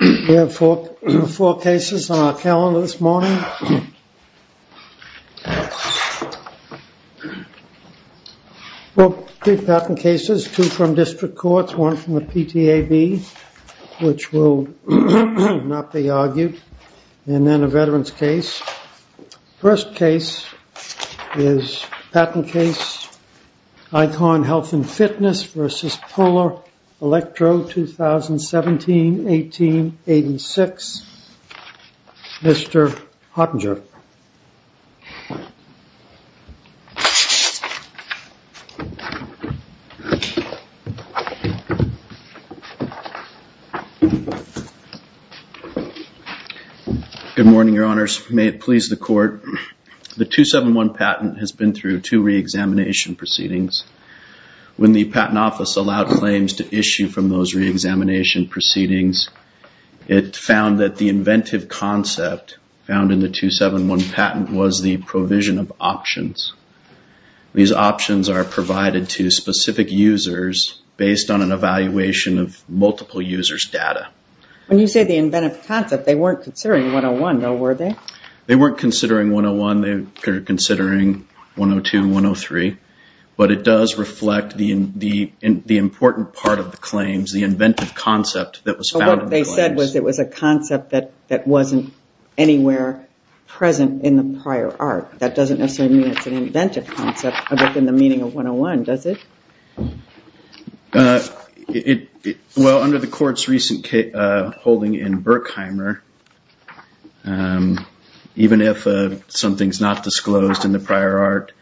We have four cases on our calendar this morning. Well, three patent cases, two from district courts, one from the PTAB, which will not be argued, and then a veterans case. First case is patent case ICON Health & Fitness v. Polar Electro, 2017-18-86. Mr. Hottinger. Good morning, Your Honors. May it please the Court. The 271 patent has been through two reexamination proceedings. When the Patent Office allowed claims to issue from those reexamination proceedings, it found that the inventive concept found in the 271 patent was the provision of options. These options are provided to specific users based on an evaluation of multiple users' data. When you say the inventive concept, they weren't considering 101, though, were they? They weren't considering 101. They were considering 102 and 103. But it does reflect the important part of the claims, the inventive concept that was found in the claims. What they said was it was a concept that wasn't anywhere present in the prior art. That doesn't necessarily mean it's an inventive concept within the meaning of 101, does it? Well, under the Court's recent holding in Berkheimer, even if something's not disclosed in the prior art,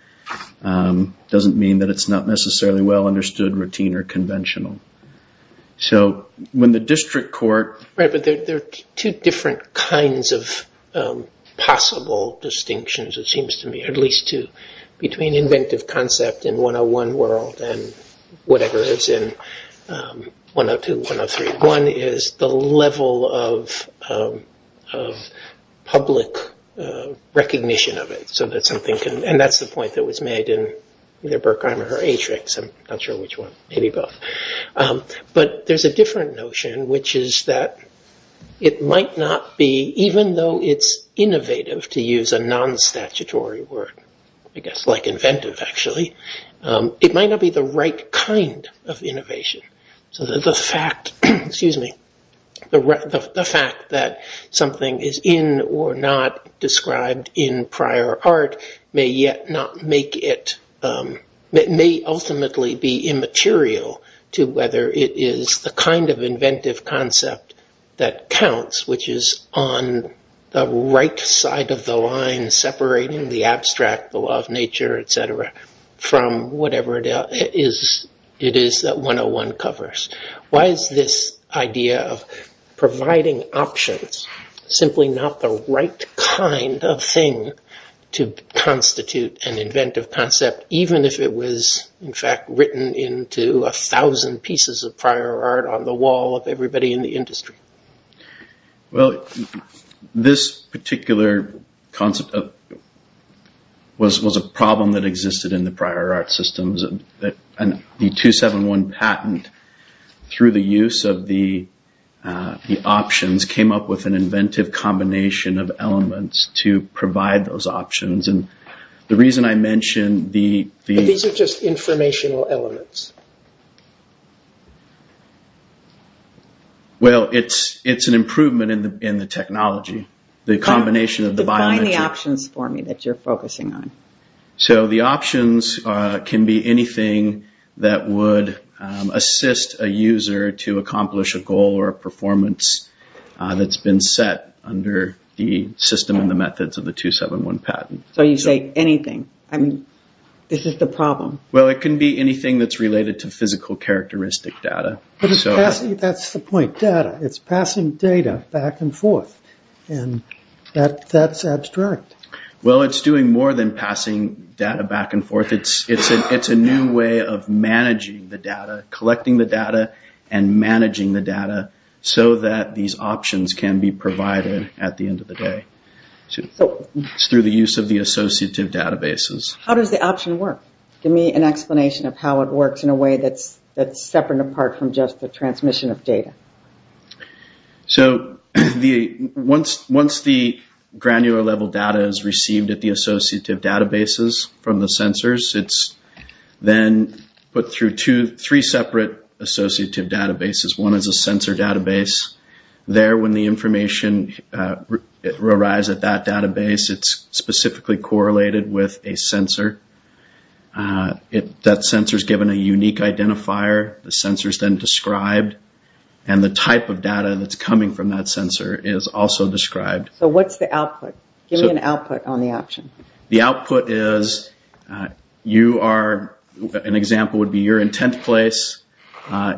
it doesn't mean that it's not necessarily well understood, routine, or conventional. So when the district court... Right, but there are two different kinds of possible distinctions, it seems to me, at least two, between inventive concept in 101 world and whatever is in 102, 103. One is the level of public recognition of it, and that's the point that was made in either Berkheimer or Atrix. I'm not sure which one. Maybe both. But there's a different notion, which is that it might not be, even though it's innovative, to use a non-statutory word, I guess like inventive, actually, it might not be the right kind of innovation. So the fact that something is in or not described in prior art may ultimately be immaterial to whether it is the kind of inventive concept that counts, which is on the right side of the line separating the abstract, the law of nature, etc., from whatever it is that 101 covers. Why is this idea of providing options simply not the right kind of thing to constitute an inventive concept, even if it was, in fact, written into a thousand pieces of prior art on the wall of everybody in the industry? Well, this particular concept was a problem that existed in the prior art systems. The 271 patent, through the use of the options, came up with an inventive combination of elements to provide those options. These are just informational elements? Well, it's an improvement in the technology. Define the options for me that you're focusing on. So the options can be anything that would assist a user to accomplish a goal or a performance that's been set under the system and the methods of the 271 patent. So you say anything. I mean, this is the problem. Well, it can be anything that's related to physical characteristic data. That's the point, data. It's passing data back and forth, and that's abstract. Well, it's doing more than passing data back and forth. It's a new way of managing the data, collecting the data and managing the data so that these options can be provided at the end of the day. It's through the use of the associative databases. How does the option work? Give me an explanation of how it works in a way that's separate and apart from just the transmission of data. So once the granular level data is received at the associative databases from the sensors, it's then put through three separate associative databases. One is a sensor database. There, when the information arrives at that database, it's specifically correlated with a sensor. That sensor is given a unique identifier. The sensor is then described, and the type of data that's coming from that sensor is also described. So what's the output? Give me an output on the option. The output is an example would be you're in 10th place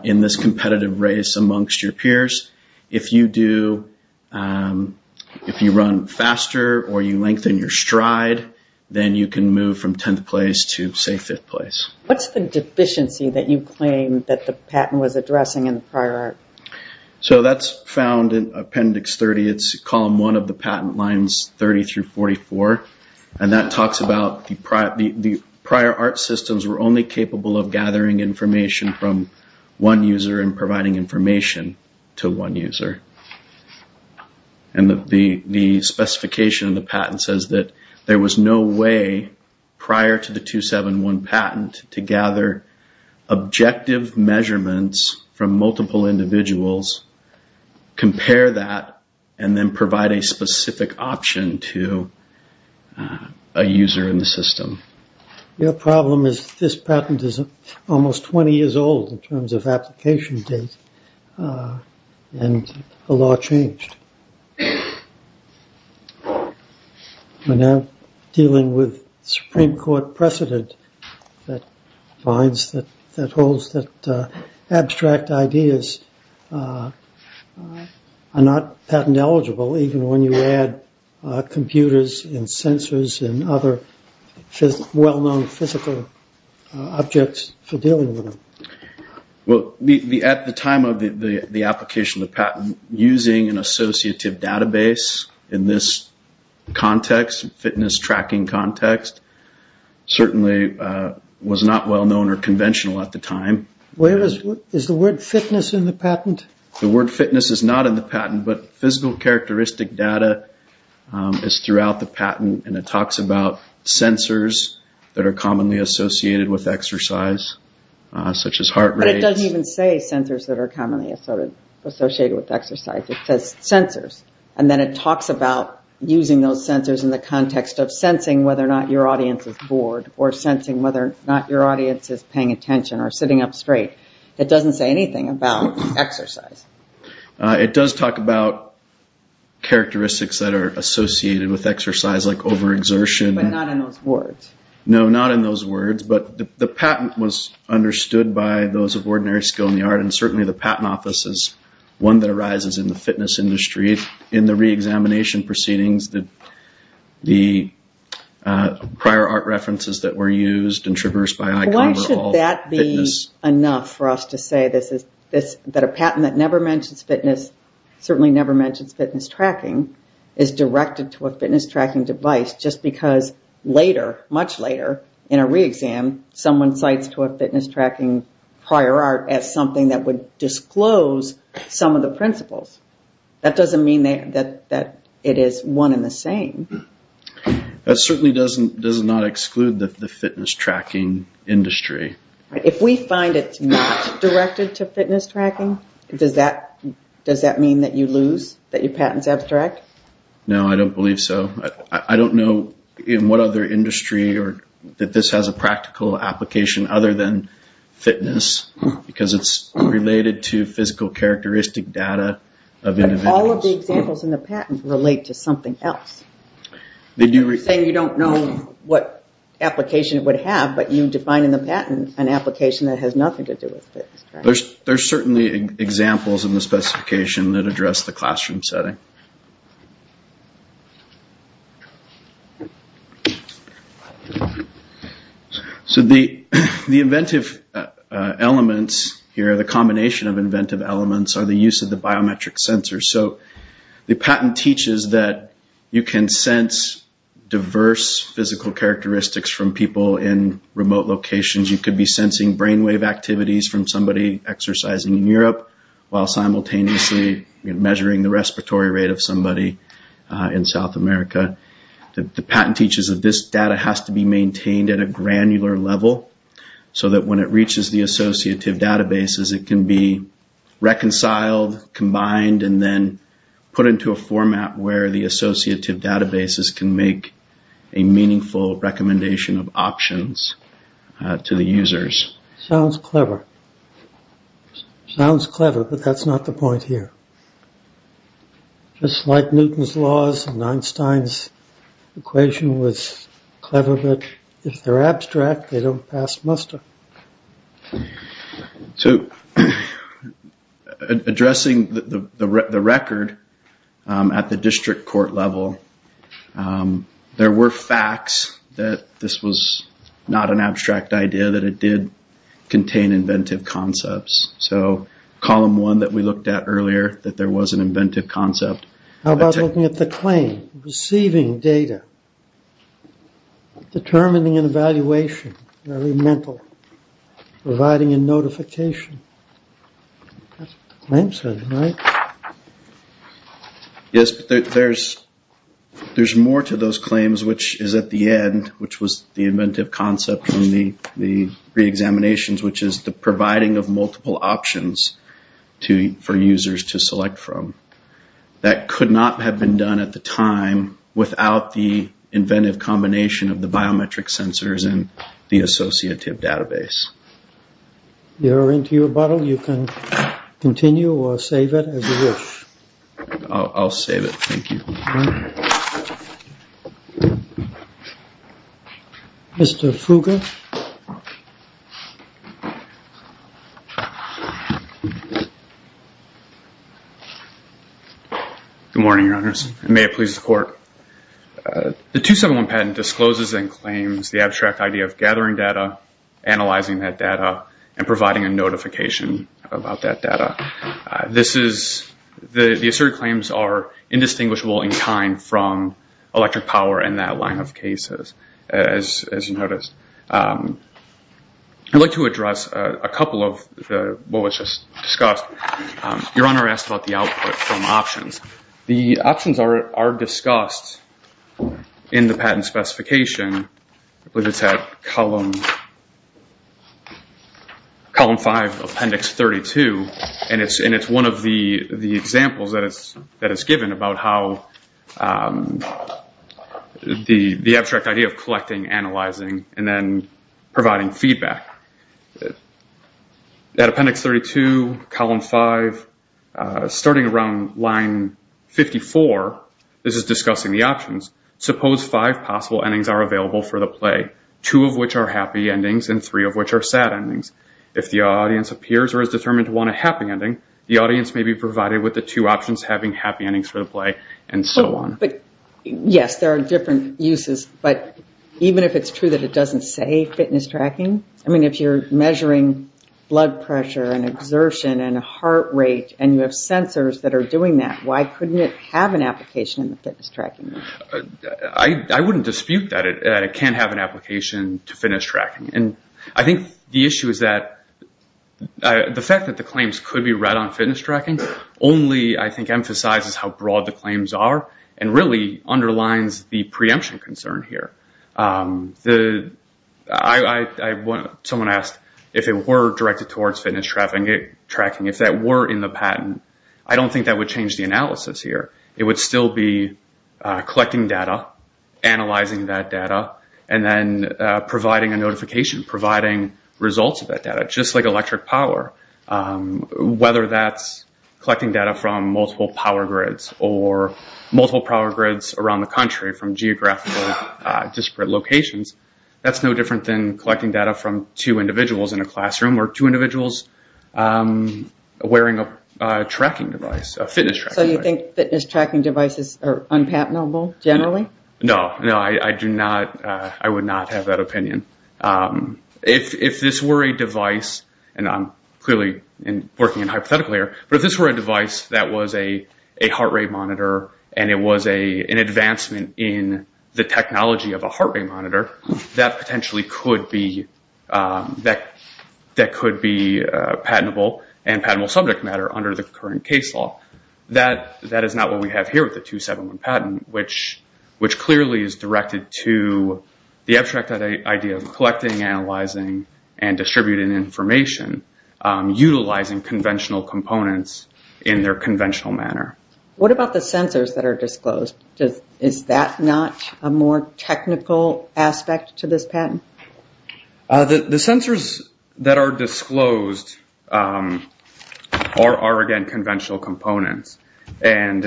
in this competitive race amongst your peers. If you run faster or you lengthen your stride, then you can move from 10th place to, say, 5th place. What's the deficiency that you claim that the patent was addressing in the prior art? So that's found in Appendix 30. It's column one of the patent lines 30 through 44, and that talks about the prior art systems were only capable of gathering information from one user and providing information to one user. And the specification of the patent says that there was no way prior to the 271 patent to gather objective measurements from multiple individuals, compare that, and then provide a specific option to a user in the system. Your problem is this patent is almost 20 years old in terms of application date, and the law changed. We're now dealing with Supreme Court precedent that holds that abstract ideas are not patent eligible even when you add computers and sensors and other well-known physical objects for dealing with them. Well, at the time of the application of the patent, using an associative database in this context, fitness tracking context, certainly was not well-known or conventional at the time. Is the word fitness in the patent? The word fitness is not in the patent, but physical characteristic data is throughout the patent, and it talks about sensors that are commonly associated with exercise, such as heart rate. But it doesn't even say sensors that are commonly associated with exercise. It says sensors, and then it talks about using those sensors in the context of sensing whether or not your audience is bored or sensing whether or not your audience is paying attention or sitting up straight. It doesn't say anything about exercise. It does talk about characteristics that are associated with exercise, like overexertion. But not in those words. No, not in those words, but the patent was understood by those of ordinary skill in the art, and certainly the patent office is one that arises in the fitness industry. In the reexamination proceedings, the prior art references that were used and traversed by Icon were all fitness. It's enough for us to say that a patent that never mentions fitness, certainly never mentions fitness tracking, is directed to a fitness tracking device just because later, much later, in a reexam, someone cites to a fitness tracking prior art as something that would disclose some of the principles. That doesn't mean that it is one and the same. That certainly does not exclude the fitness tracking industry. If we find it's not directed to fitness tracking, does that mean that you lose, that your patent is abstract? No, I don't believe so. I don't know in what other industry that this has a practical application other than fitness because it's related to physical characteristic data of individuals. All of the examples in the patent relate to something else. You're saying you don't know what application it would have, but you define in the patent an application that has nothing to do with fitness tracking. There are certainly examples in the specification that address the classroom setting. The inventive elements here, the combination of inventive elements, are the use of the biometric sensors. The patent teaches that you can sense diverse physical characteristics from people in remote locations. You could be sensing brainwave activities from somebody exercising in Europe while simultaneously measuring the respiratory rate of somebody in South America. The patent teaches that this data has to be maintained at a granular level so that when it reaches the associative databases, it can be reconciled, combined, and then put into a format where the associative databases can make a meaningful recommendation of options to the users. Sounds clever. Sounds clever, but that's not the point here. Just like Newton's laws and Einstein's equation was clever, but if they're abstract, they don't pass muster. Addressing the record at the district court level, there were facts that this was not an abstract idea, that it did contain inventive concepts. Column one that we looked at earlier, that there was an inventive concept. How about looking at the claim, receiving data, determining an evaluation, providing a notification. Yes, but there's more to those claims, which is at the end, which was the inventive concept from the reexaminations, which is the providing of multiple options for users to select from. That could not have been done at the time without the inventive combination of the biometric sensors and the associative database. You're into your bottle. You can continue or save it as you wish. I'll save it. Thank you. Mr. Fugger. Good morning, Your Honors. May it please the court. The 271 patent discloses and claims the abstract idea of gathering data, analyzing that data, and providing a notification about that data. The asserted claims are indistinguishable in kind from electric power and that line of cases, as you noticed. I'd like to address a couple of what was just discussed. Your Honor asked about the output from options. The options are discussed in the patent specification. It's at Column 5, Appendix 32. It's one of the examples that is given about how the abstract idea of gathering data and then providing feedback. At Appendix 32, Column 5, starting around line 54, this is discussing the options. Suppose five possible endings are available for the play, two of which are happy endings and three of which are sad endings. If the audience appears or is determined to want a happy ending, the audience may be provided with the two options having happy endings for the play and so on. Yes, there are different uses, but even if it's true that it doesn't say fitness tracking, if you're measuring blood pressure and exertion and heart rate and you have sensors that are doing that, why couldn't it have an application in the fitness tracking? I wouldn't dispute that it can have an application to fitness tracking. The fact that the claims could be read on fitness tracking only emphasizes how broad the claims are and really underlines the preemption concern here. Someone asked if it were directed towards fitness tracking. If that were in the patent, I don't think that would change the analysis here. It would still be collecting data, analyzing that data, and then providing a notification, providing results of that data, just like electric power. Whether that's collecting data from multiple power grids or multiple power grids around the country from geographically disparate locations, that's no different than collecting data from two individuals in a classroom or two individuals wearing a tracking device, a fitness tracking device. So you think fitness tracking devices are unpatentable generally? No, I would not have that opinion. If this were a device, and I'm clearly working in hypothetical here, but if this were a device that was a heart rate monitor and it was an advancement in the technology of a heart rate monitor, that potentially could be patentable and patentable subject matter under the current case law. That is not what we have here with the 271 patent, which clearly is directed to the abstract idea of collecting, analyzing, and distributing information, utilizing conventional components in their conventional manner. What about the sensors that are disclosed? Is that not a more technical aspect to this patent? The sensors that are disclosed are, again, conventional components. For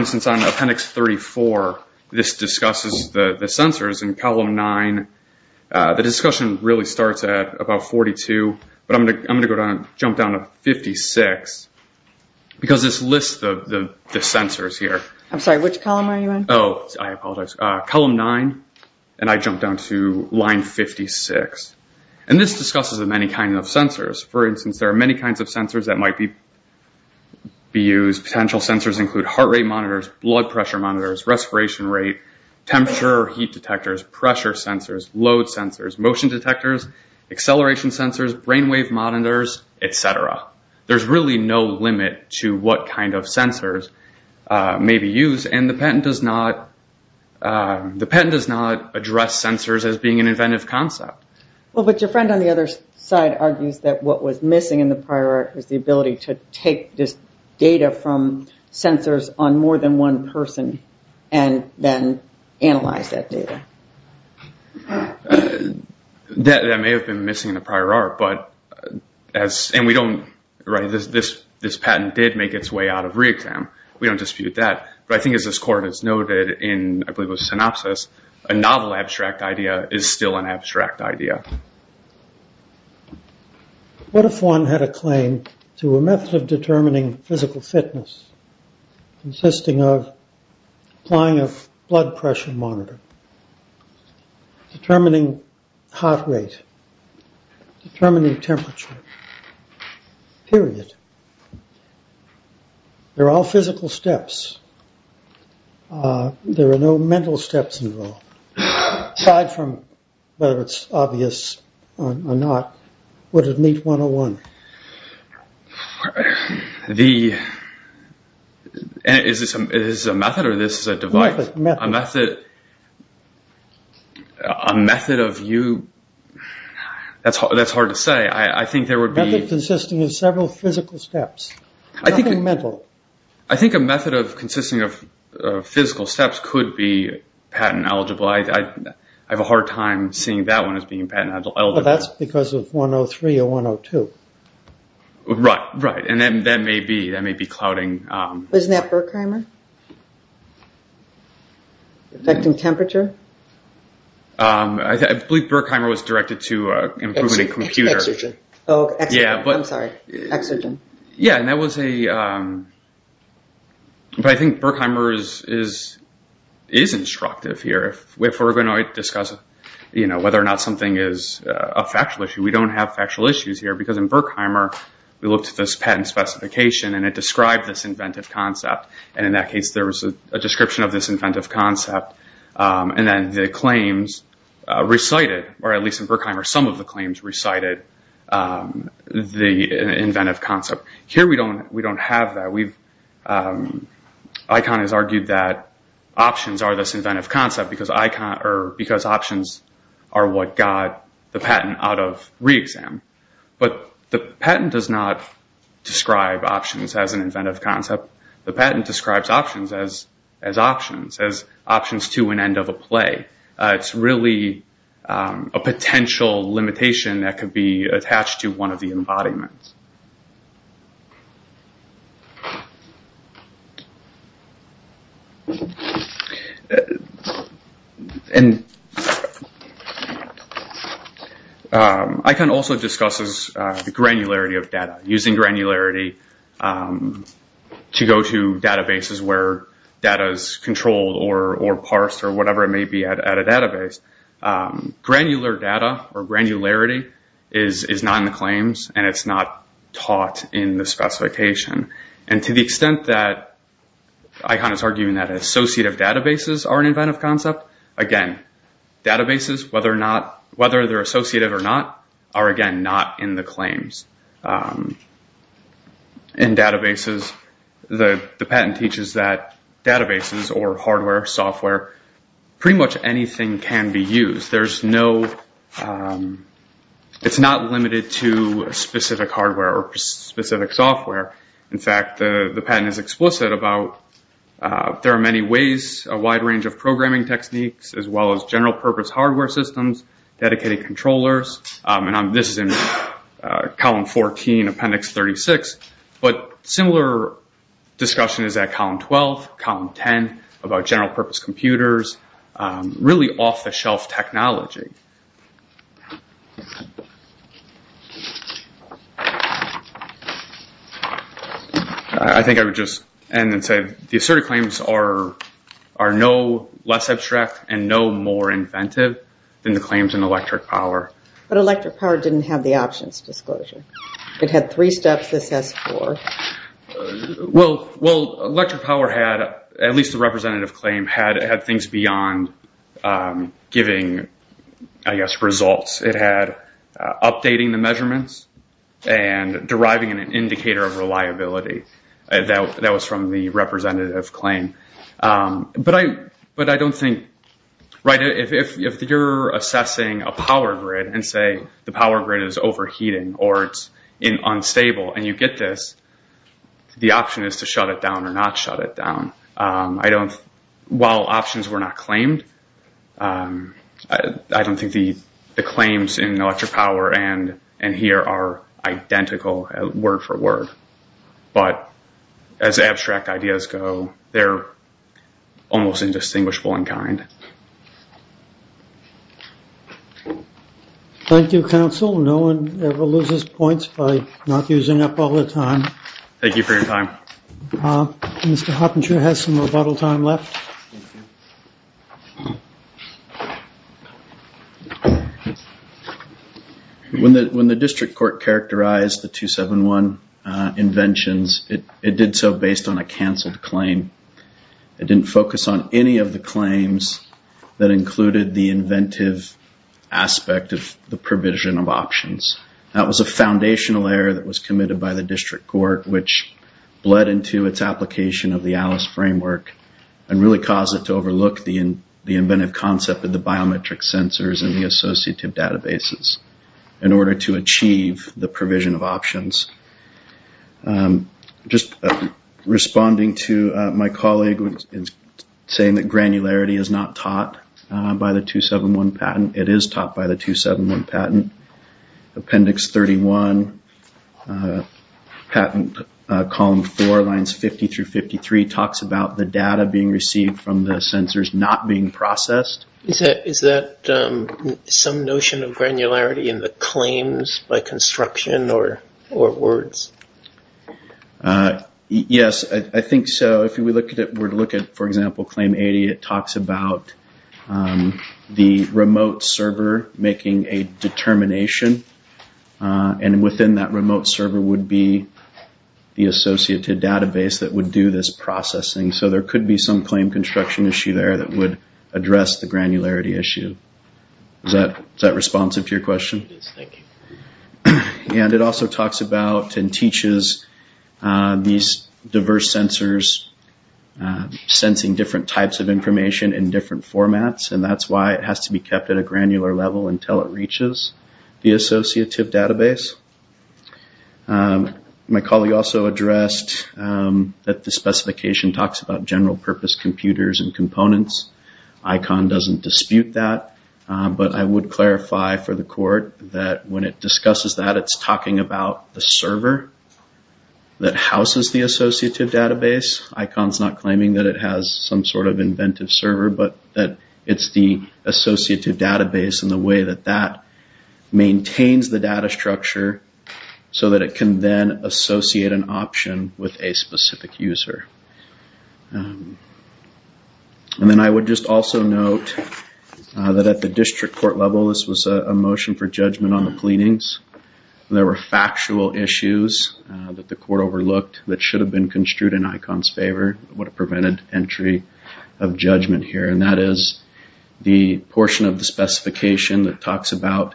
instance, on appendix 34, this discusses the sensors in column 9. The discussion really starts at about 42, but I'm going to jump down to 56, because this lists the sensors here. I'm sorry, which column are you in? Column 9, and I jumped down to line 56. This discusses many kinds of sensors. For instance, there are many kinds of sensors that might be used. Potential sensors include heart rate monitors, blood pressure monitors, respiration rate, temperature or heat detectors, pressure sensors, load sensors, motion detectors, acceleration sensors, brain wave monitors, etc. There's really no limit to what kind of sensors may be used, and the patent does not address sensors as being an inventive concept. But your friend on the other side argues that what was missing in the prior article was the ability to take this data from sensors on more than one person and then analyze that data. That may have been missing in the prior article, and this patent did make its way out of re-exam. We don't dispute that, but I think as this court has noted in synopsis, a novel abstract idea is still an abstract idea. What if one had a claim to a method of determining physical fitness consisting of applying a blood pressure monitor, determining heart rate, determining temperature, period. They're all physical steps. There are no mental steps involved, aside from whether it's obvious or not. Would it meet 101? Is this a method or is this a divide? A method of view, that's hard to say. A method consisting of several physical steps, nothing mental. I think a method consisting of physical steps could be patent eligible. I have a hard time seeing that one as being patent eligible. That's because of 103 or 102. Isn't that Berkheimer? Affecting temperature? I believe Berkheimer was directed to improving a computer. I'm sorry, exergen. I think Berkheimer is instructive here. If we're going to discuss whether or not something is a factual issue, we don't have factual issues here because in Berkheimer, we looked at this patent specification and it described this inventive concept. In that case, there was a description of this inventive concept. At least in Berkheimer, some of the claims recited the inventive concept. Here we don't have that. ICON has argued that options are this inventive concept because options are what got the patent out of re-exam. The patent does not describe options as an inventive concept. The patent describes options as options, as options to an end of a play. It's really a potential limitation that could be attached to one of the embodiments. ICON also discusses granularity of data, using granularity to go to databases where data is controlled or parsed or whatever it may be at a database. Granularity is not in the claims and it's not taught in the specification. To the extent that ICON is arguing that associative databases are an inventive concept, again, databases, whether they're associative or not, are again not in the claims. The patent teaches that databases or hardware, software, pretty much anything can be used. It's not limited to specific hardware or specific software. In fact, the patent is explicit about there are many ways, a wide range of programming techniques as well as general purpose hardware systems, dedicated controllers. This is in column 14, appendix 36. But similar discussion is at column 12, column 10 about general purpose computers, really off the shelf technology. I think I would just end and say the assertive claims are no less abstract and no more inventive than the claims in electric power. But electric power didn't have the options disclosure. It had three steps, this has four. Well, electric power had, at least the representative claim, had things beyond giving results. It had updating the measurements and deriving an indicator of reliability. That was from the representative claim. If you're assessing a power grid and say the power grid is overheating or it's unstable and you get this, the option is to shut it down or not shut it down. While options were not claimed, I don't think the claims in electric power and here are identical word for word. But as abstract ideas go, they're almost indistinguishable in kind. Thank you, counsel, no one ever loses points by not using up all their time. Thank you for your time. When the district court characterized the 271 inventions, it did so based on a canceled claim. It didn't focus on any of the claims that included the inventive aspect of the provision of options. That was a foundational error that was committed by the district court, which bled into its application of the ALICE framework and really caused it to overlook the inventive concept of the biometric sensors and the associative databases in order to achieve the provision of options. Just responding to my colleague saying that granularity is not taught by the 271 patent. It is taught by the 271 patent. Appendix 31, patent column 4, lines 50 through 53 talks about the data being received from the sensors not being processed. Is that some notion of granularity in the claims by construction or words? Yes, I think so. If we were to look at, for example, claim 80, it talks about the remote server making a determination. Within that remote server would be the associative database that would do this processing. There could be some claim construction issue there that would address the granularity issue. Is that responsive to your question? Yes, thank you. It also talks about and teaches these diverse sensors sensing different types of information in different formats. That's why it has to be kept at a granular level until it reaches the associative database. My colleague also addressed that the specification talks about general purpose computers and components. ICON doesn't dispute that, but I would clarify for the court that when it discusses that it's talking about the server that houses the associative database. ICON's not claiming that it has some sort of inventive server, but that it's the associative database and the way that that maintains the data structure so that it can then associate an option with a specific user. Then I would just also note that at the district court level this was a motion for judgment on the pleadings. There were factual issues that the court overlooked that should have been construed in ICON's favor would have prevented entry of judgment here. That is the portion of the specification that talks about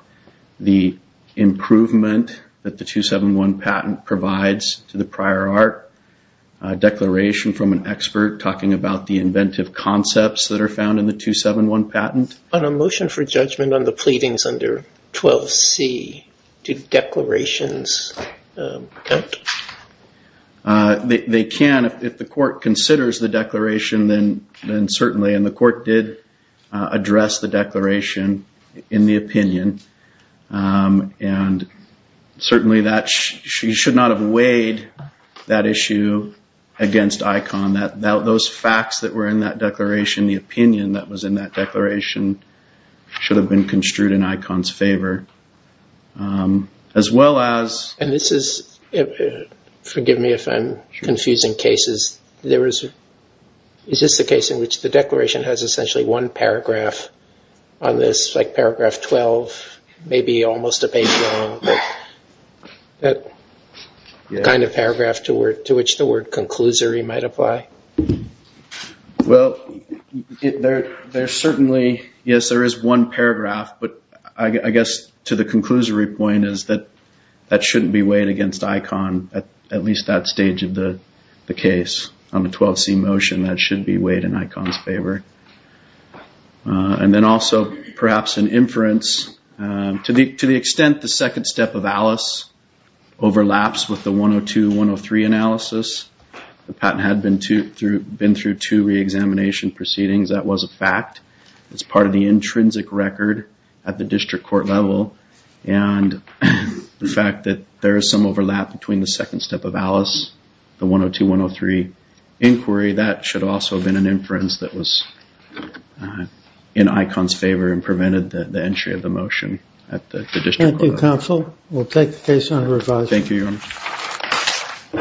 the improvement that the 271 patent provides to the prior art declaration from an expert talking about the inventive concepts that are found in the 271 patent. On a motion for judgment on the pleadings under 12C, do declarations count? They can if the court considers the declaration, then certainly, and the court did address the declaration in the opinion. Certainly that should not have weighed that issue against ICON. Those facts that were in that declaration, the opinion that was in that declaration, should have been construed in ICON's favor. And this is, forgive me if I'm confusing cases, is this the case in which the declaration has essentially one paragraph on this, like paragraph 12, maybe almost a page long, that kind of paragraph to which the word conclusory might apply? Yes, there is one paragraph, but I guess to the conclusory point is that that shouldn't be weighed against ICON, at least that stage of the case. On the 12C motion, that should be weighed in ICON's favor. And then also, perhaps an inference, to the extent the second step of ALICE overlaps with the 102-103 analysis, the patent had been through two reexamination proceedings, that was a fact. It's part of the intrinsic record at the district court level, and the fact that there is some overlap between the second step of ALICE, the 102-103 inquiry, that should also have been an inference that was in ICON's favor and Thank you very much.